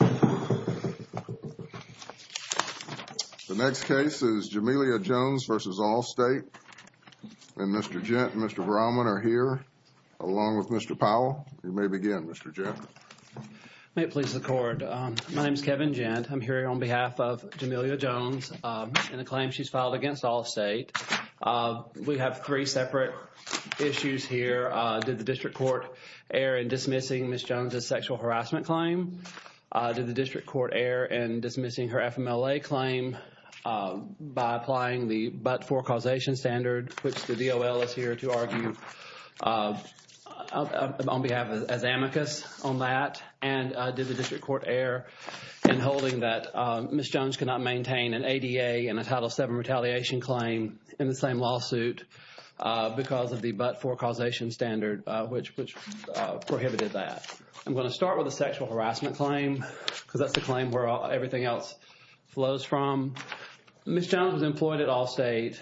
The next case is Jamilia Jones v. Allstate, and Mr. Jent and Mr. Brahman are here, along with Mr. Powell. You may begin, Mr. Jent. May it please the Court. My name is Kevin Jent. I'm here on behalf of Jamilia Jones in a claim she's filed against Allstate. We have three separate issues here. Did the District Court err in dismissing Ms. Jones' sexual harassment claim? Did the District Court err in dismissing her FMLA claim by applying the but-for causation standard, which the DOL is here to argue on behalf of as amicus on that? And did the District Court err in holding that Ms. Jones cannot maintain an ADA and a Title VII retaliation claim in the same lawsuit because of the but-for causation standard, which prohibited that? I'm going to start with the sexual harassment claim because that's the claim where everything else flows from. Ms. Jones was employed at Allstate,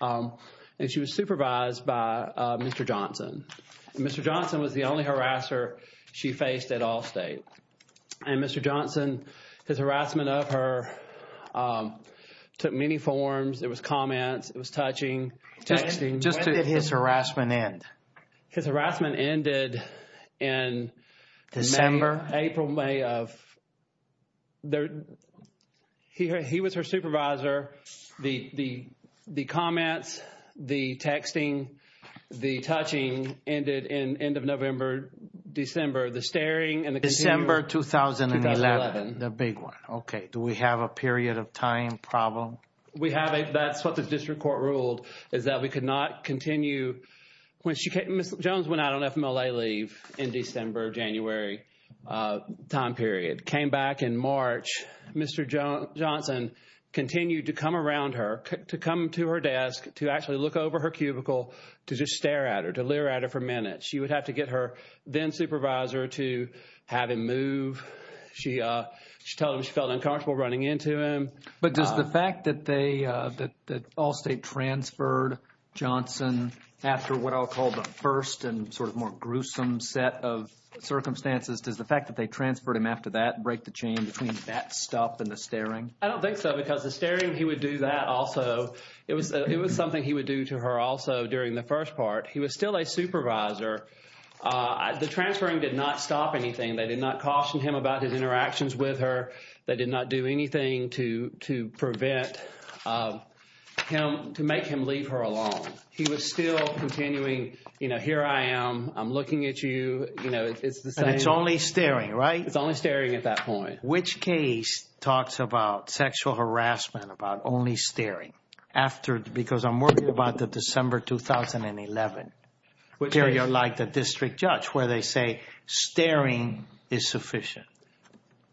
and she was supervised by Mr. Johnson. Mr. Johnson was the only harasser she faced at Allstate. And Mr. Johnson, his harassment of her took many forms. It was comments. It was touching, texting. When did his harassment end? His harassment ended in April, May of – he was her supervisor. The comments, the texting, the touching ended in end of November, December. The staring and the – December 2011. The big one. Okay. Do we have a period of time problem? We have a – that's what the District Court ruled is that we could not continue when she came – Ms. Jones went out on FMLA leave in December, January time period, came back in March. Mr. Johnson continued to come around her, to come to her desk to actually look over her cubicle to just stare at her, to leer at her for minutes. She would have to get her then-supervisor to have him move. She told him she felt uncomfortable running into him. But does the fact that they – that Allstate transferred Johnson after what I'll call the first and sort of more gruesome set of circumstances, does the fact that they transferred him after that break the chain between that stuff and the staring? I don't think so because the staring, he would do that also. It was something he would do to her also during the first part. He was still a supervisor. The transferring did not stop anything. They did not caution him about his interactions with her. They did not do anything to prevent him – to make him leave her alone. He was still continuing, you know, here I am. I'm looking at you. You know, it's the same. And it's only staring, right? It's only staring at that point. Which case talks about sexual harassment about only staring after – because I'm worried about the December 2011. Which case? Like the district judge where they say staring is sufficient.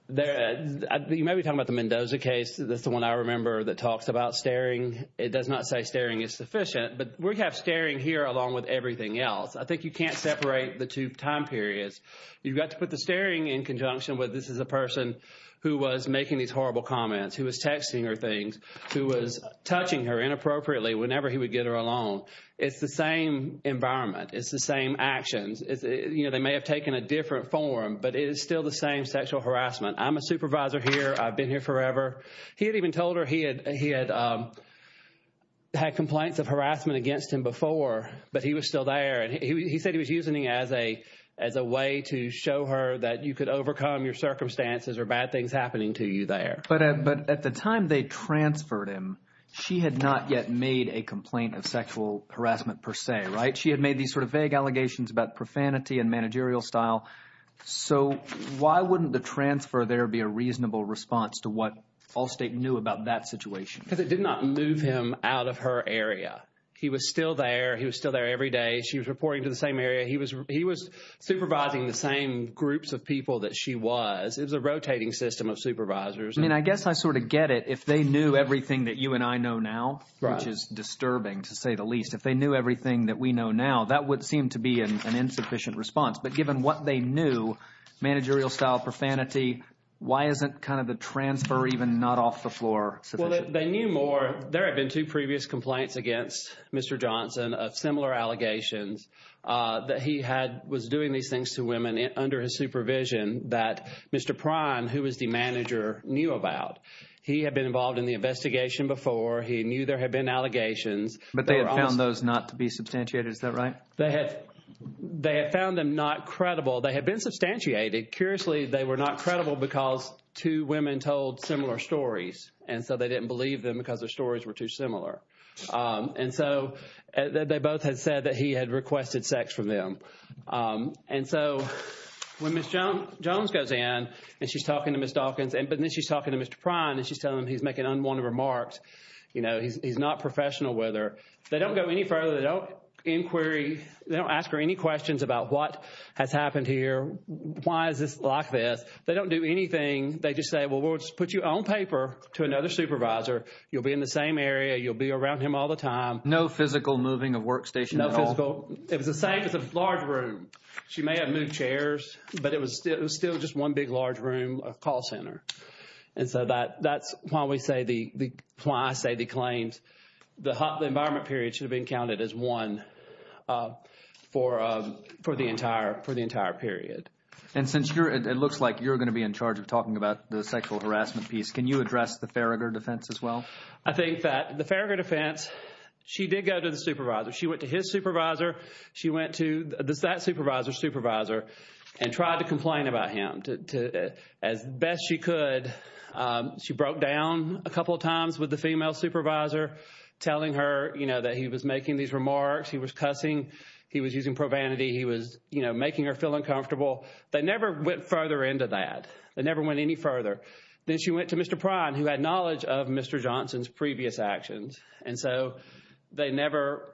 You may be talking about the Mendoza case. That's the one I remember that talks about staring. It does not say staring is sufficient, but we have staring here along with everything else. I think you can't separate the two time periods. You've got to put the staring in conjunction with this is a person who was making these horrible comments, who was texting her things, who was touching her inappropriately whenever he would get her alone. It's the same environment. It's the same actions. You know, they may have taken a different form, but it is still the same sexual harassment. I'm a supervisor here. I've been here forever. He had even told her he had complaints of harassment against him before, but he was still there. And he said he was using it as a way to show her that you could overcome your circumstances or bad things happening to you there. But at the time they transferred him, she had not yet made a complaint of sexual harassment per se, right? She had made these sort of vague allegations about profanity and managerial style. So why wouldn't the transfer there be a reasonable response to what Allstate knew about that situation? Because it did not move him out of her area. He was still there. He was still there every day. She was reporting to the same area. He was supervising the same groups of people that she was. It was a rotating system of supervisors. I mean, I guess I sort of get it. If they knew everything that you and I know now, which is disturbing to say the least, if they knew everything that we know now, that would seem to be an insufficient response. But given what they knew, managerial style, profanity, why isn't kind of the transfer even not off the floor sufficient? Well, they knew more. There had been two previous complaints against Mr. Johnson of similar allegations that he was doing these things to women under his supervision that Mr. Prime, who was the manager, knew about. He had been involved in the investigation before. He knew there had been allegations. But they had found those not to be substantiated. Is that right? They had found them not credible. They had been substantiated. Curiously, they were not credible because two women told similar stories, and so they didn't believe them because their stories were too similar. And so they both had said that he had requested sex from them. And so when Ms. Jones goes in and she's talking to Ms. Dawkins, but then she's talking to Mr. Prime and she's telling him he's making unwanted remarks, you know, he's not professional with her, they don't go any further. They don't inquiry. They don't ask her any questions about what has happened here. Why is this like this? They don't do anything. They just say, well, we'll just put you on paper to another supervisor. You'll be in the same area. You'll be around him all the time. No physical moving of workstation at all? No physical. It was the same. It was a large room. She may have moved chairs, but it was still just one big, large room, a call center. And so that's why I say the claims, the environment period should have been counted as one for the entire period. And since it looks like you're going to be in charge of talking about the sexual harassment piece, can you address the Farragher defense as well? I think that the Farragher defense, she did go to the supervisor. She went to his supervisor. She went to that supervisor's supervisor and tried to complain about him as best she could. She broke down a couple of times with the female supervisor, telling her, you know, that he was making these remarks. He was cussing. He was using provanity. He was, you know, making her feel uncomfortable. They never went further into that. They never went any further. Then she went to Mr. Prine, who had knowledge of Mr. Johnson's previous actions. And so they never,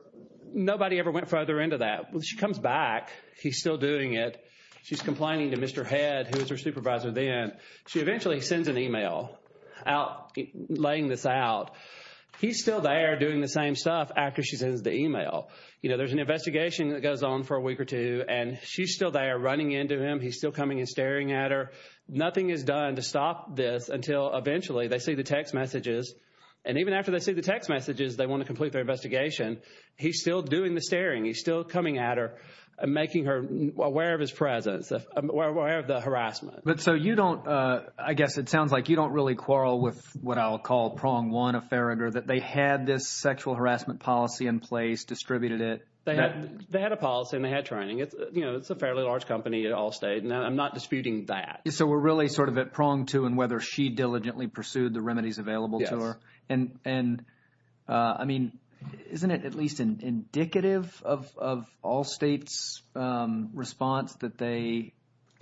nobody ever went further into that. She comes back. He's still doing it. She's complaining to Mr. Head, who was her supervisor then. She eventually sends an email out laying this out. He's still there doing the same stuff after she sends the email. You know, there's an investigation that goes on for a week or two, and she's still there running into him. He's still coming and staring at her. Nothing is done to stop this until eventually they see the text messages. And even after they see the text messages, they want to complete their investigation. He's still doing the staring. He's still coming at her and making her aware of his presence, aware of the harassment. But so you don't, I guess it sounds like you don't really quarrel with what I'll call prong one of Farragher, that they had this sexual harassment policy in place, distributed it. They had a policy and they had training. You know, it's a fairly large company at Allstate, and I'm not disputing that. So we're really sort of at prong two in whether she diligently pursued the remedies available to her. And, I mean, isn't it at least indicative of Allstate's response that they,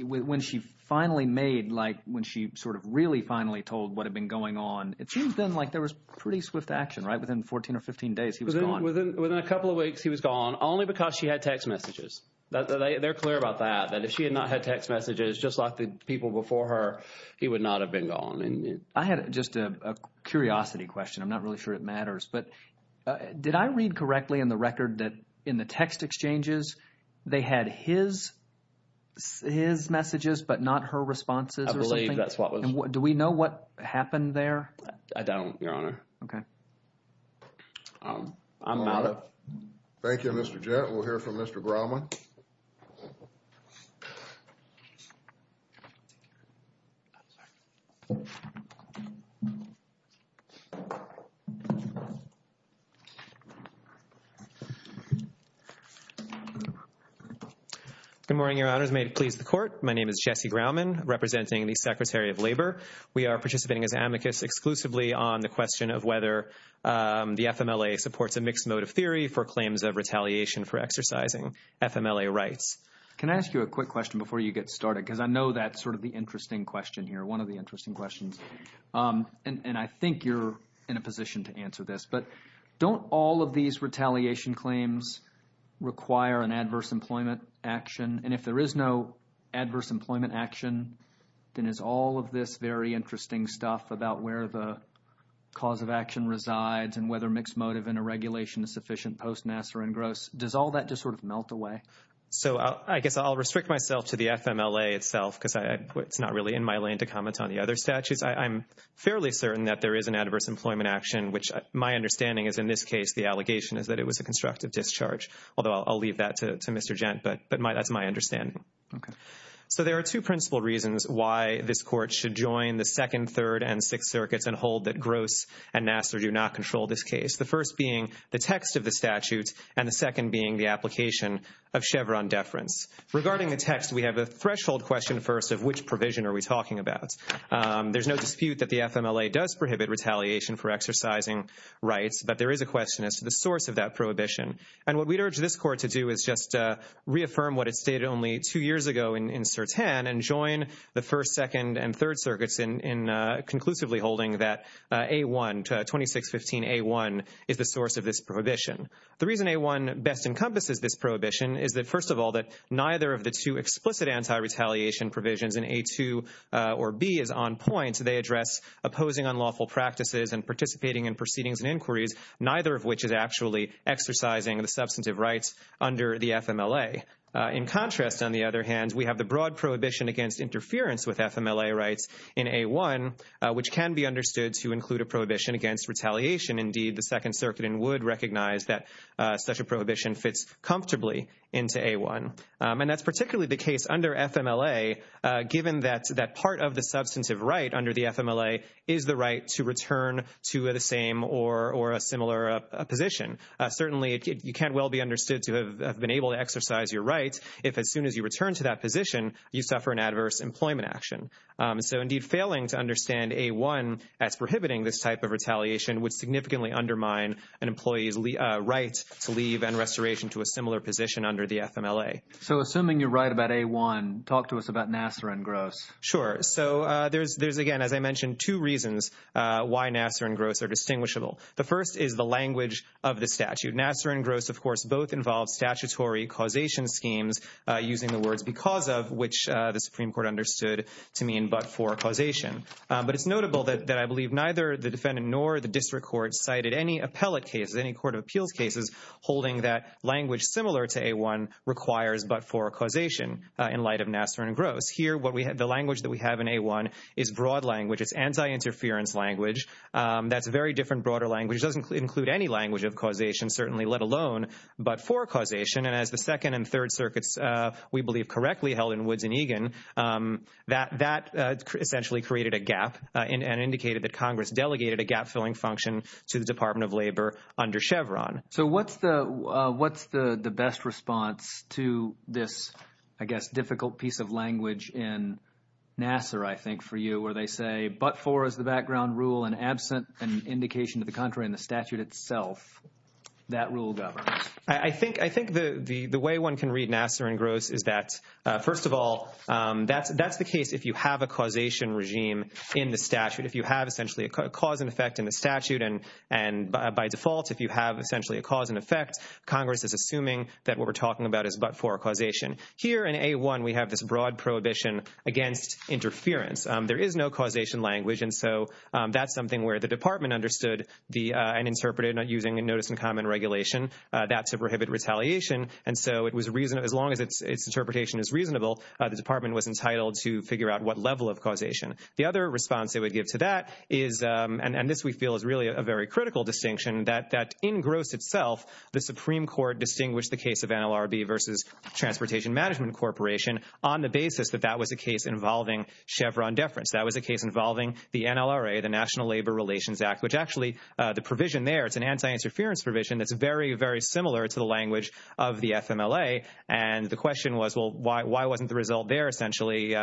when she finally made, like when she sort of really finally told what had been going on, it seems then like there was pretty swift action, right? Within 14 or 15 days he was gone. Within a couple of weeks he was gone, only because she had text messages. They're clear about that, that if she had not had text messages, just like the people before her, he would not have been gone. I had just a curiosity question. I'm not really sure it matters. But did I read correctly in the record that in the text exchanges they had his messages but not her responses or something? I believe that's what was. Do we know what happened there? I don't, Your Honor. Okay. I'm out of. Thank you, Mr. Jett. We'll hear from Mr. Grauman. Good morning, Your Honors. May it please the Court. My name is Jesse Grauman, representing the Secretary of Labor. We are participating as amicus exclusively on the question of whether the FMLA supports a mixed motive theory for claims of retaliation for exercising FMLA rights. Can I ask you a quick question before you get started? Because I know that's sort of the interesting question here, one of the interesting questions. And I think you're in a position to answer this. But don't all of these retaliation claims require an adverse employment action? And if there is no adverse employment action, then is all of this very interesting stuff about where the cause of action resides and whether mixed motive in a regulation is sufficient post-Nasser and Gross, does all that just sort of melt away? So I guess I'll restrict myself to the FMLA itself because it's not really in my lane to comment on the other statutes. I'm fairly certain that there is an adverse employment action, which my understanding is in this case the allegation is that it was a constructive discharge. Although I'll leave that to Mr. Gent, but that's my understanding. So there are two principal reasons why this Court should join the Second, Third, and Sixth Circuits and hold that Gross and Nasser do not control this case. The first being the text of the statute and the second being the application of Chevron deference. Regarding the text, we have a threshold question first of which provision are we talking about. There's no dispute that the FMLA does prohibit retaliation for exercising rights, but there is a question as to the source of that prohibition. And what we'd urge this Court to do is just reaffirm what it stated only two years ago in Certan and join the First, Second, and Third Circuits in conclusively holding that 2615A1 is the source of this prohibition. The reason A1 best encompasses this prohibition is that, first of all, that neither of the two explicit anti-retaliation provisions in A2 or B is on point. They address opposing unlawful practices and participating in proceedings and inquiries, neither of which is actually exercising the substantive rights under the FMLA. In contrast, on the other hand, we have the broad prohibition against interference with FMLA rights in A1, which can be understood to include a prohibition against retaliation. Indeed, the Second Circuit would recognize that such a prohibition fits comfortably into A1. And that's particularly the case under FMLA, given that part of the substantive right under the FMLA is the right to return to the same or a similar position. Certainly, you can't well be understood to have been able to exercise your rights if, as soon as you return to that position, you suffer an adverse employment action. So, indeed, failing to understand A1 as prohibiting this type of retaliation would significantly undermine an employee's right to leave and restoration to a similar position under the FMLA. So, assuming you're right about A1, talk to us about Nassar and Gross. Sure. So, there's, again, as I mentioned, two reasons why Nassar and Gross are distinguishable. The first is the language of the statute. Nassar and Gross, of course, both involve statutory causation schemes, using the words because of, which the Supreme Court understood to mean but for causation. But it's notable that I believe neither the defendant nor the district court cited any appellate cases, any court of appeals cases, holding that language similar to A1 requires but for causation in light of Nassar and Gross. Here, the language that we have in A1 is broad language. It's anti-interference language. That's a very different, broader language. It doesn't include any language of causation, certainly, let alone but for causation. And as the Second and Third Circuits, we believe, correctly held in Woods and Egan, that essentially created a gap and indicated that Congress delegated a gap-filling function to the Department of Labor under Chevron. So what's the best response to this, I guess, difficult piece of language in Nassar, I think, for you where they say but for as the background rule and absent an indication to the contrary in the statute itself, that rule governs? I think the way one can read Nassar and Gross is that, first of all, that's the case if you have a causation regime in the statute, if you have essentially a cause and effect in the statute. And by default, if you have essentially a cause and effect, Congress is assuming that what we're talking about is but for causation. Here in A1, we have this broad prohibition against interference. There is no causation language. And so that's something where the department understood and interpreted using a notice and comment regulation, that's a prohibit retaliation. And so as long as its interpretation is reasonable, the department was entitled to figure out what level of causation. The other response they would give to that is and this we feel is really a very critical distinction that in Gross itself, the Supreme Court distinguished the case of NLRB versus Transportation Management Corporation on the basis that that was a case involving Chevron deference. That was a case involving the NLRA, the National Labor Relations Act, which actually the provision there, it's an anti-interference provision that's very, very similar to the language of the FMLA. And the question was, well, why wasn't the result there essentially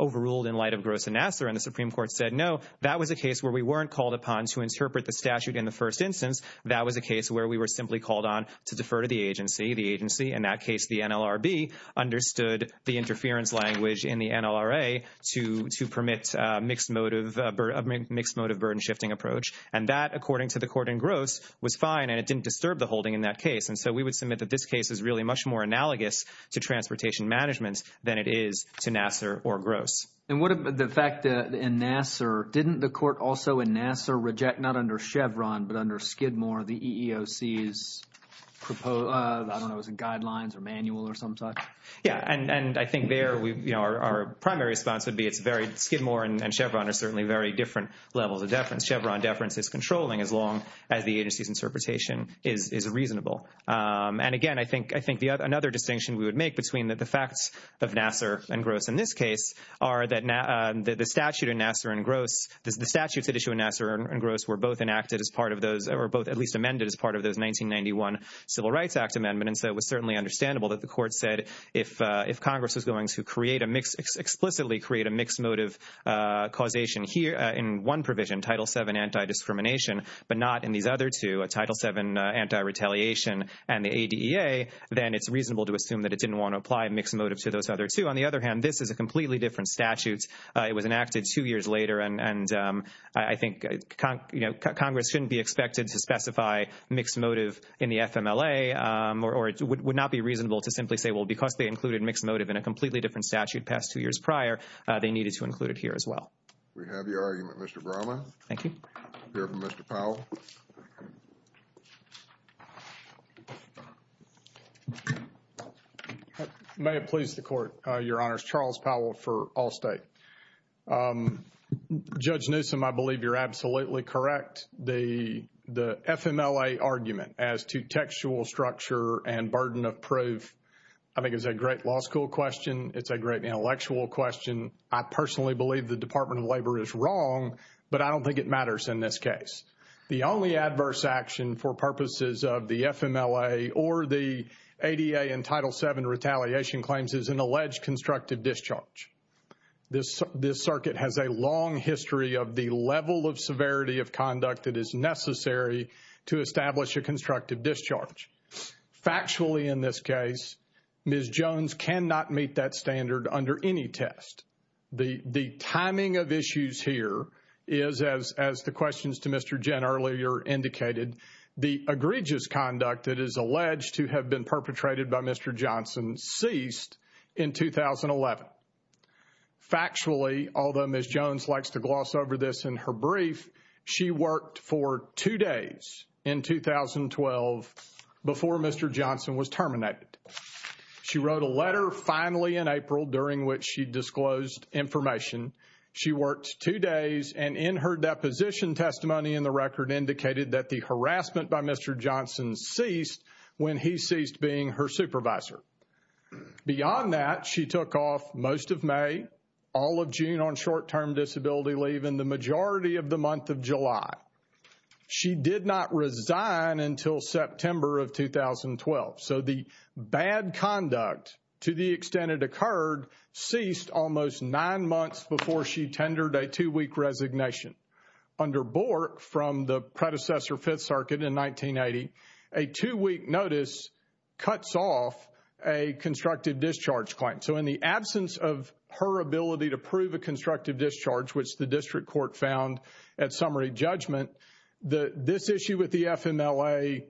overruled in light of Gross and Nassar? And the Supreme Court said, no, that was a case where we weren't called upon to interpret the statute in the first instance. That was a case where we were simply called on to defer to the agency. The agency, in that case, the NLRB, understood the interference language in the NLRA to permit mixed motive burden shifting approach. And that, according to the court in Gross, was fine and it didn't disturb the holding in that case. And so we would submit that this case is really much more analogous to transportation management than it is to Nassar or Gross. And what about the fact that in Nassar, didn't the court also in Nassar reject, not under Chevron, but under Skidmore, the EEOC's, I don't know, was it guidelines or manual or some such? Yeah, and I think there, you know, our primary response would be it's very, Skidmore and Chevron are certainly very different levels of deference. Chevron deference is controlling as long as the agency's interpretation is reasonable. And again, I think another distinction we would make between the facts of Nassar and Gross in this case are that the statute in Nassar and Gross, the statutes at issue in Nassar and Gross were both enacted as part of those, or both at least amended as part of those 1991 Civil Rights Act amendments. And so it was certainly understandable that the court said if Congress was going to create a mixed, explicitly create a mixed motive causation here in one provision, Title VII anti-discrimination, but not in these other two, Title VII anti-retaliation and the ADEA, then it's reasonable to assume that it didn't want to apply mixed motive to those other two. On the other hand, this is a completely different statute. It was enacted two years later, and I think, you know, Congress shouldn't be expected to specify mixed motive in the FMLA, or it would not be reasonable to simply say, well, because they included mixed motive in a completely different statute past two years prior, they needed to include it here as well. We have your argument, Mr. Brauman. Thank you. We have Mr. Powell. May it please the Court, Your Honors. Charles Powell for Allstate. Judge Newsom, I believe you're absolutely correct. The FMLA argument as to textual structure and burden of proof, I think, is a great law school question. It's a great intellectual question. I personally believe the Department of Labor is wrong, but I don't think it matters in this case. The only adverse action for purposes of the FMLA or the ADA and Title VII retaliation claims is an alleged constructive discharge. This circuit has a long history of the level of severity of conduct that is necessary to establish a constructive discharge. Factually, in this case, Ms. Jones cannot meet that standard under any test. The timing of issues here is, as the questions to Mr. Jen earlier indicated, the egregious conduct that is alleged to have been perpetrated by Mr. Johnson ceased in 2011. Factually, although Ms. Jones likes to gloss over this in her brief, she worked for two days in 2012 before Mr. Johnson was terminated. She wrote a letter finally in April during which she disclosed information. She worked two days and in her deposition testimony in the record indicated that the harassment by Mr. Johnson ceased when he ceased being her supervisor. Beyond that, she took off most of May, all of June on short-term disability leave, and the majority of the month of July. She did not resign until September of 2012. So the bad conduct to the extent it occurred ceased almost nine months before she tendered a two-week resignation. Under Bork from the predecessor Fifth Circuit in 1980, a two-week notice cuts off a constructive discharge claim. So in the absence of her ability to prove a constructive discharge, which the district court found at summary judgment, this issue with the FMLA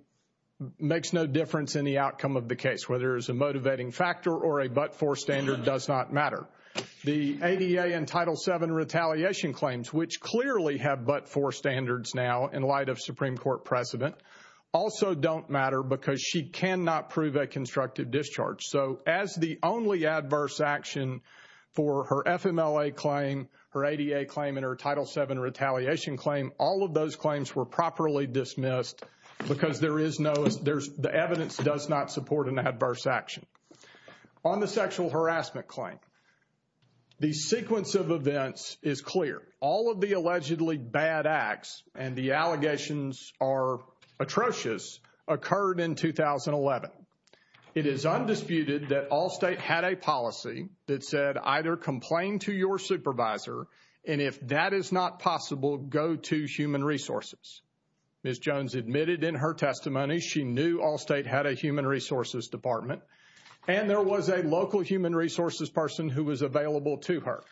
makes no difference in the outcome of the case, whether it's a motivating factor or a but-for standard does not matter. The ADA and Title VII retaliation claims, which clearly have but-for standards now in light of Supreme Court precedent, also don't matter because she cannot prove a constructive discharge. So as the only adverse action for her FMLA claim, her ADA claim, and her Title VII retaliation claim, all of those claims were properly dismissed because the evidence does not support an adverse action. On the sexual harassment claim, the sequence of events is clear. All of the allegedly bad acts and the allegations are atrocious occurred in 2011. It is undisputed that Allstate had a policy that said either complain to your supervisor, and if that is not possible, go to Human Resources. Ms. Jones admitted in her testimony she knew Allstate had a Human Resources Department, and there was a local Human Resources person who was available to her.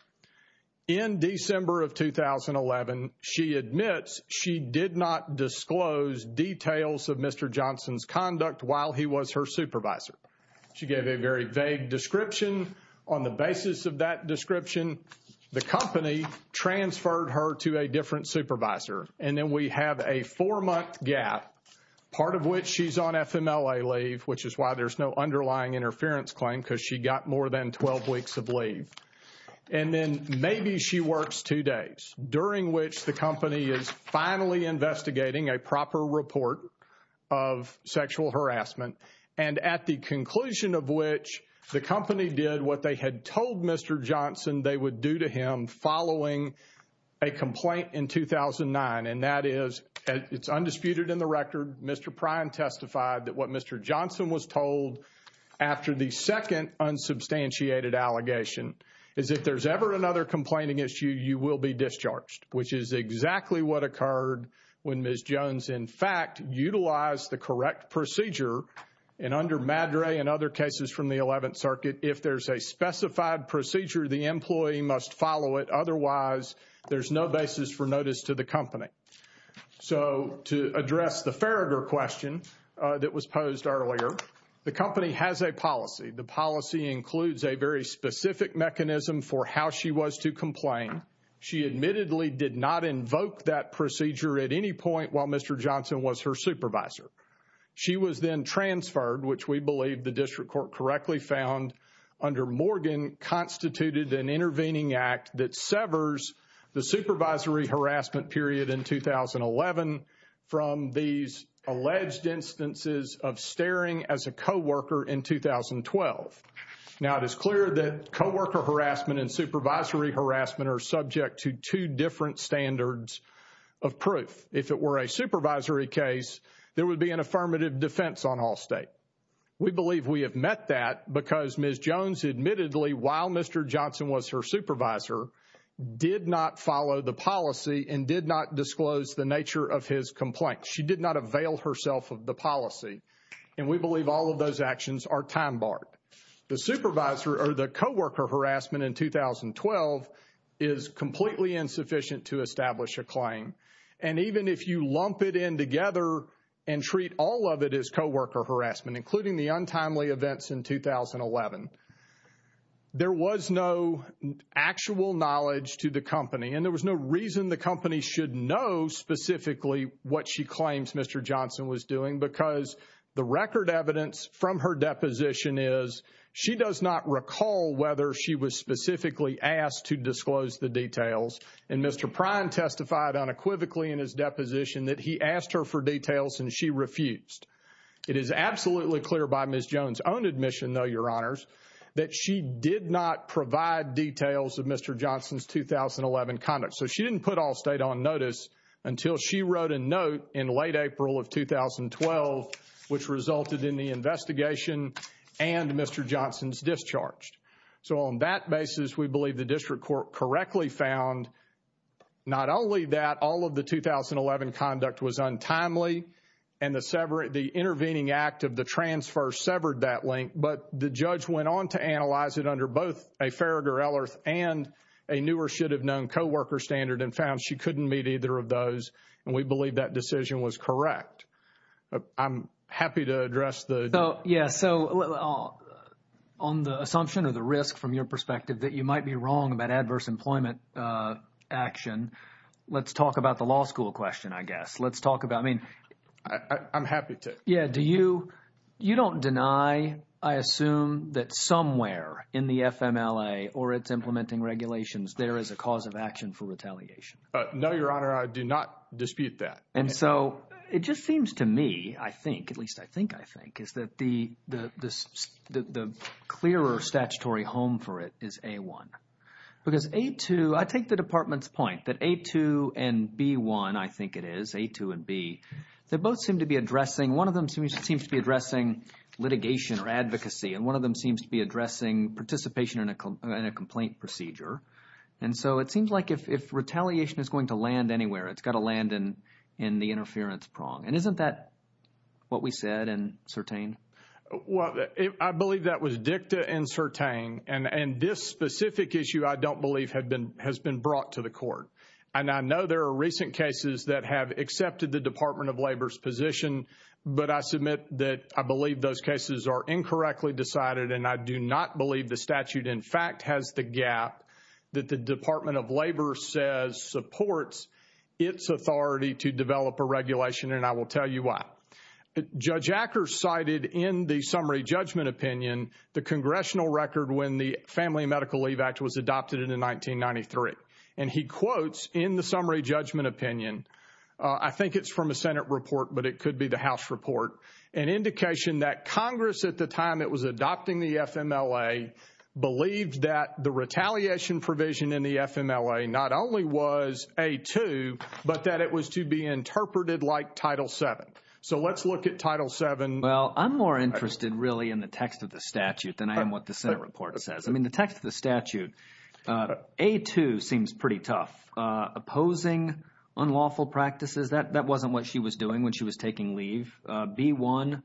In December of 2011, she admits she did not disclose details of Mr. Johnson's conduct while he was her supervisor. She gave a very vague description. On the basis of that description, the company transferred her to a different supervisor. And then we have a four-month gap, part of which she's on FMLA leave, which is why there's no underlying interference claim because she got more than 12 weeks of leave. And then maybe she works two days, during which the company is finally investigating a proper report of sexual harassment. And at the conclusion of which, the company did what they had told Mr. Johnson they would do to him following a complaint in 2009, and that is, it's undisputed in the record, Mr. Prine testified that what Mr. Johnson was told after the second unsubstantiated allegation is if there's ever another complaining issue, you will be discharged, which is exactly what occurred when Ms. Jones, in fact, utilized the correct procedure. And under MADRE and other cases from the 11th Circuit, if there's a specified procedure, the employee must follow it. Otherwise, there's no basis for notice to the company. So, to address the Farragher question that was posed earlier, the company has a policy. The policy includes a very specific mechanism for how she was to complain. She admittedly did not invoke that procedure at any point while Mr. Johnson was her supervisor. She was then transferred, which we believe the District Court correctly found under Morgan, constituted an intervening act that severs the supervisory harassment period in 2011 from these alleged instances of staring as a co-worker in 2012. Now, it is clear that co-worker harassment and supervisory harassment are subject to two different standards of proof. If it were a supervisory case, there would be an affirmative defense on all state. We believe we have met that because Ms. Jones admittedly, while Mr. Johnson was her supervisor, did not follow the policy and did not disclose the nature of his complaint. She did not avail herself of the policy. And we believe all of those actions are time-barred. The supervisor or the co-worker harassment in 2012 is completely insufficient to establish a claim. And even if you lump it in together and treat all of it as co-worker harassment, including the untimely events in 2011, there was no actual knowledge to the company. And there was no reason the company should know specifically what she claims Mr. Johnson was doing because the record evidence from her deposition is she does not recall whether she was specifically asked to disclose the details. And Mr. Prine testified unequivocally in his deposition that he asked her for details and she refused. It is absolutely clear by Ms. Jones' own admission, though, Your Honors, that she did not provide details of Mr. Johnson's 2011 conduct. So she didn't put all state on notice until she wrote a note in late April of 2012, which resulted in the investigation and Mr. Johnson's discharge. So on that basis, we believe the district court correctly found not only that all of the 2011 conduct was untimely and the intervening act of the transfer severed that link, but the judge went on to analyze it under both a Farragher-Ellerth and a newer should-have-known co-worker standard and found she couldn't meet either of those. And we believe that decision was correct. I'm happy to address the... Well, yeah, so on the assumption or the risk from your perspective that you might be wrong about adverse employment action, let's talk about the law school question, I guess. Let's talk about, I mean... I'm happy to. Yeah, do you, you don't deny, I assume, that somewhere in the FMLA or its implementing regulations there is a cause of action for retaliation? No, Your Honor, I do not dispute that. And so it just seems to me, I think, at least I think I think, is that the clearer statutory home for it is A-1. Because A-2, I take the Department's point that A-2 and B-1, I think it is, A-2 and B, they both seem to be addressing, one of them seems to be addressing litigation or advocacy and one of them seems to be addressing participation in a complaint procedure. And so it seems like if retaliation is going to land anywhere, it's got to land in the interference prong. And isn't that what we said in Sertain? Well, I believe that was dicta in Sertain. And this specific issue, I don't believe, has been brought to the court. And I know there are recent cases that have accepted the Department of Labor's position, but I submit that I believe those cases are incorrectly decided and I do not believe the statute in fact has the gap that the Department of Labor says supports its authority to develop a regulation and I will tell you why. Judge Acker cited in the summary judgment opinion the congressional record when the Family Medical Leave Act was adopted in 1993. And he quotes in the summary judgment opinion, I think it's from a Senate report, but it could be the House report, an indication that Congress at the time it was adopting the FMLA believed that the retaliation provision in the FMLA not only was A-2, but that it was to be interpreted like Title VII. So let's look at Title VII. Well, I'm more interested really in the text of the statute than I am what the Senate report says. I mean the text of the statute, A-2 seems pretty tough. Opposing unlawful practices, that wasn't what she was doing when she was taking leave. B-1,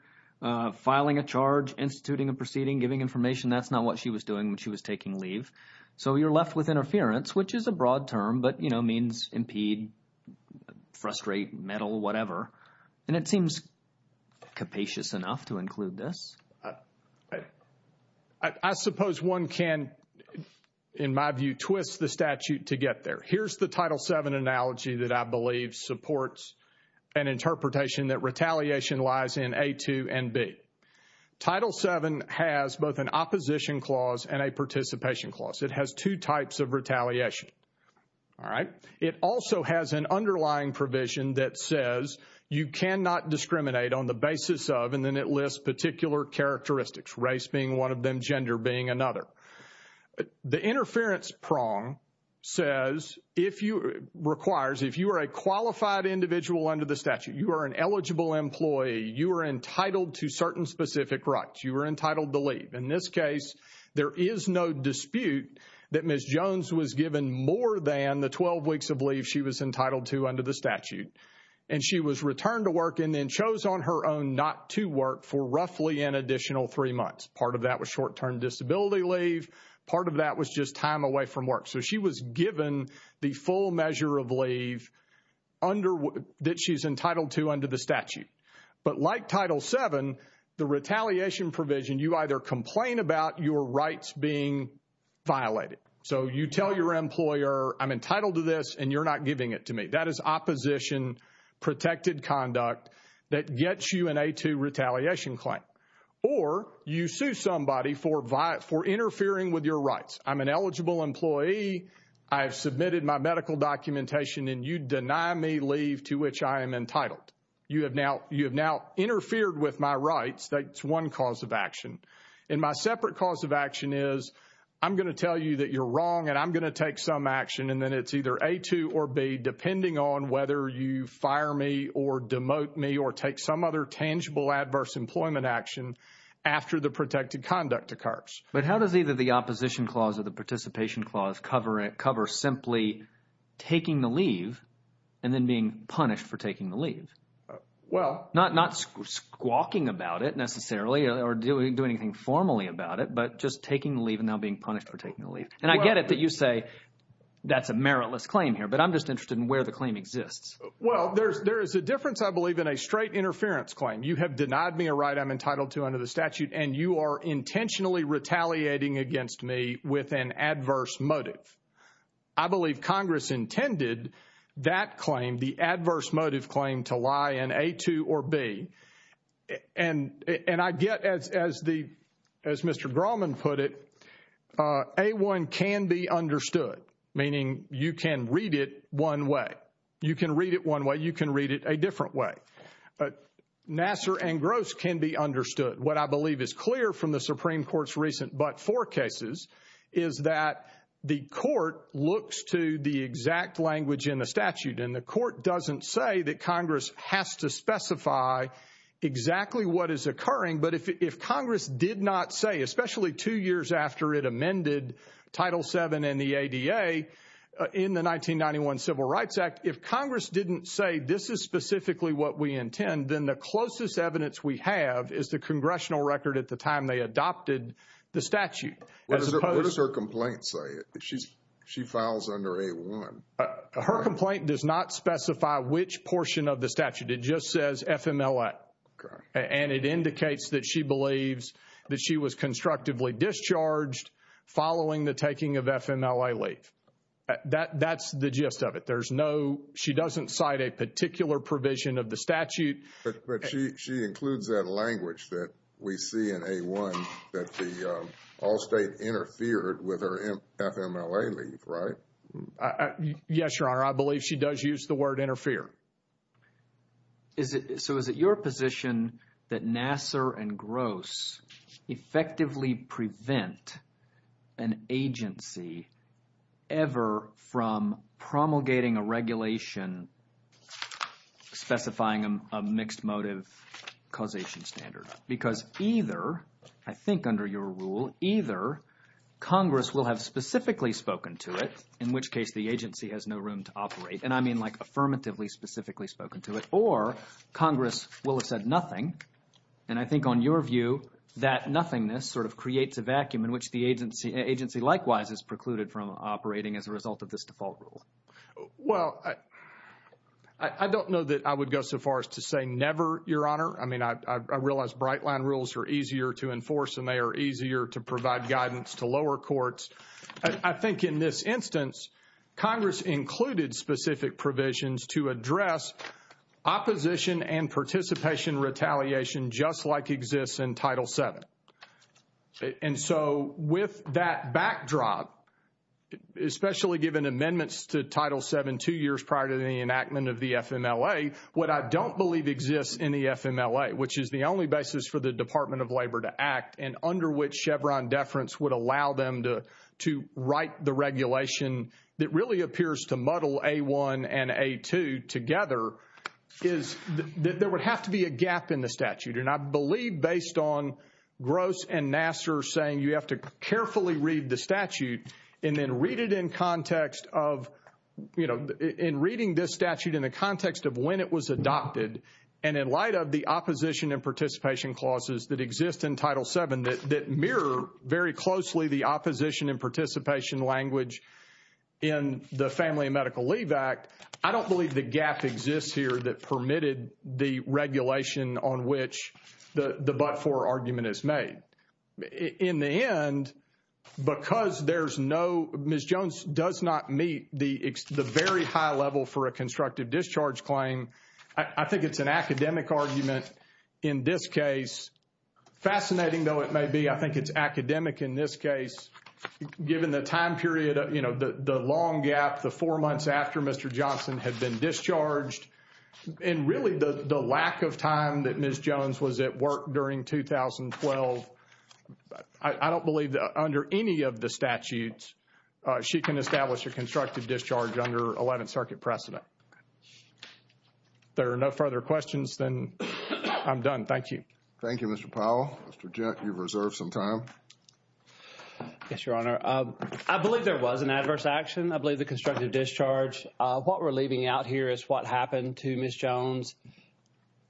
filing a charge, instituting a proceeding, giving information, that's not what she was doing when she was taking leave. So you're left with interference, which is a broad term, but, you know, means impede, frustrate, meddle, whatever. And it seems capacious enough to include this. I suppose one can, in my view, twist the statute to get there. Here's the Title VII analogy that I believe supports an interpretation that retaliation lies in A-2 and B. Title VII has both an opposition clause and a participation clause. It has two types of retaliation, all right? It also has an underlying provision that says you cannot discriminate on the basis of, and then it lists particular characteristics, race being one of them, gender being another. The interference prong says if you, requires, if you are a qualified individual under the statute, you are an eligible employee, you are entitled to certain specific rights, you are entitled to leave. In this case, there is no dispute that Ms. Jones was given more than the 12 weeks of leave she was entitled to under the statute. And she was returned to work and then chose on her own not to work for roughly an additional three months. Part of that was short-term disability leave, part of that was just time away from work. So she was given the full measure of leave that she's entitled to under the statute. But like Title VII, the retaliation provision, you either complain about your rights being violated. So you tell your employer, I'm entitled to this and you're not giving it to me. That is opposition protected conduct that gets you an A-2 retaliation claim. Or you sue somebody for interfering with your rights. I'm an eligible employee, I have submitted my medical documentation, and you deny me leave to which I am entitled. You have now interfered with my rights. That's one cause of action. And my separate cause of action is I'm going to tell you that you're wrong and I'm going to take some action, and then it's either A-2 or B, depending on whether you fire me or demote me or take some other tangible adverse employment action after the protected conduct occurs. But how does either the opposition clause or the participation clause cover simply taking the leave and then being punished for taking the leave? Not squawking about it necessarily or doing anything formally about it, but just taking the leave and now being punished for taking the leave. And I get it that you say that's a meritless claim here, but I'm just interested in where the claim exists. Well, there is a difference, I believe, in a straight interference claim. You have denied me a right I'm entitled to under the statute, and you are intentionally retaliating against me with an adverse motive. I believe Congress intended that claim, the adverse motive claim, to lie in A-2 or B. And I get, as Mr. Grauman put it, A-1 can be understood, meaning you can read it one way. You can read it one way. You can read it a different way. Nasser and Gross can be understood. What I believe is clear from the Supreme Court's recent but-for cases is that the court looks to the exact language in the statute, and the court doesn't say that Congress has to specify exactly what is occurring. But if Congress did not say, especially two years after it amended Title VII and the ADA in the 1991 Civil Rights Act, if Congress didn't say this is specifically what we intend, then the closest evidence we have is the congressional record at the time they adopted the statute. What does her complaint say? She files under A-1. Her complaint does not specify which portion of the statute. It just says FMLA. And it indicates that she believes that she was constructively discharged following the taking of FMLA leave. That's the gist of it. There's no, she doesn't cite a particular provision of the statute. But she includes that language that we see in A-1 that the Allstate interfered with her FMLA leave, right? Yes, Your Honor. I believe she does use the word interfere. So is it your position that Nassar and Gross effectively prevent an agency ever from promulgating a regulation specifying a mixed motive causation standard? Because either, I think under your rule, either Congress will have specifically spoken to it, in which case the agency has no room to operate, and I mean like affirmatively specifically spoken to it, or Congress will have said nothing. And I think on your view that nothingness sort of creates a vacuum in which the agency likewise is precluded from operating as a result of this default rule. Well, I don't know that I would go so far as to say never, Your Honor. I mean, I realize bright line rules are easier to enforce and they are easier to provide guidance to lower courts. I think in this instance, Congress included specific provisions to address opposition and participation retaliation just like exists in Title VII. And so with that backdrop, especially given amendments to Title VII two years prior to the enactment of the FMLA, what I don't believe exists in the FMLA, which is the only basis for the Department of Labor to act and under which Chevron deference would allow them to write the regulation that really appears to muddle A1 and A2 together, is that there would have to be a gap in the statute. And I believe based on Gross and Nassar saying you have to carefully read the statute and then read it in context of, you know, in reading this statute in the context of when it was adopted and in light of the opposition and participation clauses that exist in Title VII that mirror very closely the opposition and participation language in the Family and Medical Leave Act, I don't believe the gap exists here that permitted the regulation on which the but-for argument is made. In the end, because there's no, Ms. Jones does not meet the very high level for a constructive discharge claim. I think it's an academic argument in this case. Fascinating though it may be, I think it's academic in this case given the time period, you know, the long gap, the four months after Mr. Johnson had been discharged and really the lack of time that Ms. Jones was at work during 2012, I don't believe that under any of the statutes she can establish a constructive discharge under Eleventh Circuit precedent. There are no further questions, then I'm done. Thank you. Thank you, Mr. Powell. Mr. Jett, you've reserved some time. Yes, Your Honor. I believe there was an adverse action. I believe the constructive discharge. What we're leaving out here is what happened to Ms. Jones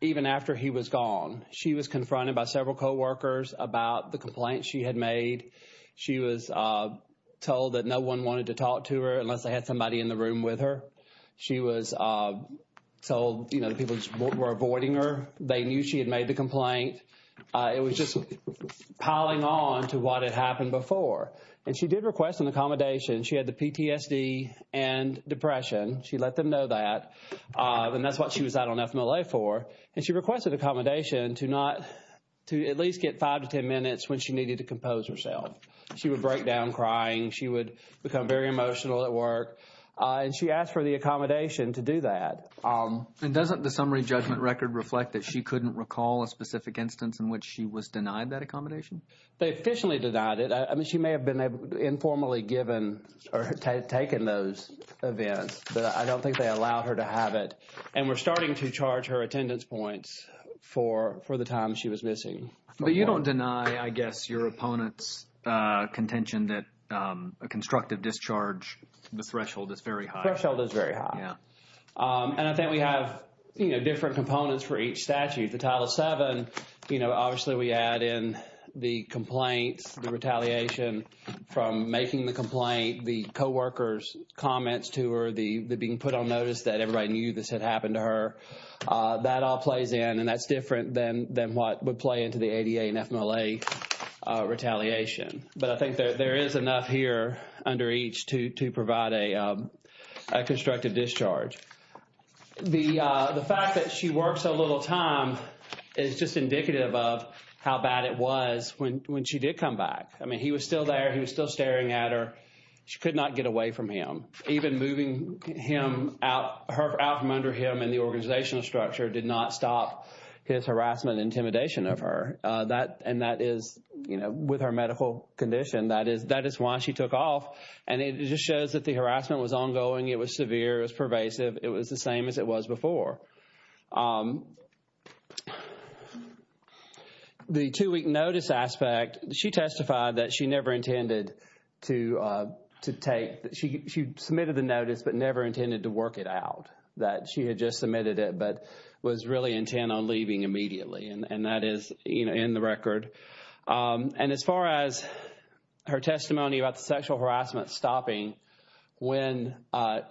even after he was gone. She was confronted by several co-workers about the complaint she had made. She was told that no one wanted to talk to her unless they had somebody in the room with her. She was told, you know, the people were avoiding her. They knew she had made the complaint. It was just piling on to what had happened before. And she did request an accommodation. She had the PTSD and depression. She let them know that. And that's what she was out on FMLA for. And she requested accommodation to at least get five to ten minutes when she needed to compose herself. She would break down crying. She would become very emotional at work. And she asked for the accommodation to do that. And doesn't the summary judgment record reflect that she couldn't recall a specific instance in which she was denied that accommodation? They officially denied it. I mean, she may have been informally given or taken those events. But I don't think they allowed her to have it. And we're starting to charge her attendance points for the time she was missing. But you don't deny, I guess, your opponent's contention that a constructive discharge, the threshold is very high. The threshold is very high. And I think we have, you know, different components for each statute. The Title VII, you know, obviously we add in the complaints, the retaliation from making the complaint, the co-workers' comments to her, the being put on notice that everybody knew this had happened to her. That all plays in. And that's different than what would play into the ADA and FMLA retaliation. But I think there is enough here under each to provide a constructive discharge. The fact that she worked so little time is just indicative of how bad it was when she did come back. I mean, he was still there. He was still staring at her. She could not get away from him. Even moving him out from under him in the organizational structure did not stop his harassment and intimidation of her. And that is, you know, with her medical condition, that is why she took off. And it just shows that the harassment was ongoing. It was severe. It was pervasive. It was the same as it was before. The two-week notice aspect, she testified that she never intended to take. She submitted the notice but never intended to work it out. That she had just submitted it but was really intent on leaving immediately. And that is, you know, in the record. And as far as her testimony about the sexual harassment stopping when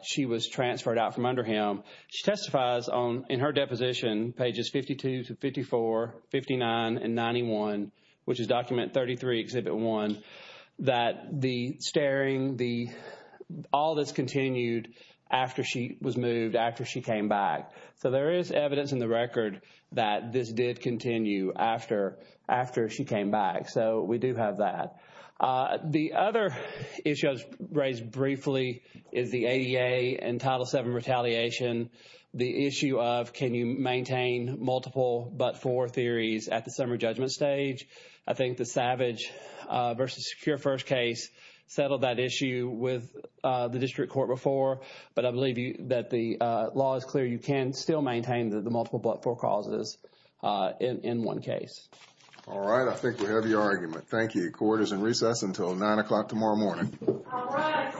she was transferred out from under him, she testifies in her deposition, pages 52 to 54, 59 and 91, which is document 33, exhibit 1, that the staring, all this continued after she was moved, after she came back. So there is evidence in the record that this did continue after she came back. So we do have that. The other issue raised briefly is the ADA and Title VII retaliation. The issue of can you maintain multiple but four theories at the summary judgment stage. I think the Savage v. Secure First case settled that issue with the district court before. But I believe that the law is clear. You can still maintain the multiple but four causes in one case. All right. I think we have your argument. Thank you. Court is in recess until 9 o'clock tomorrow morning. All right.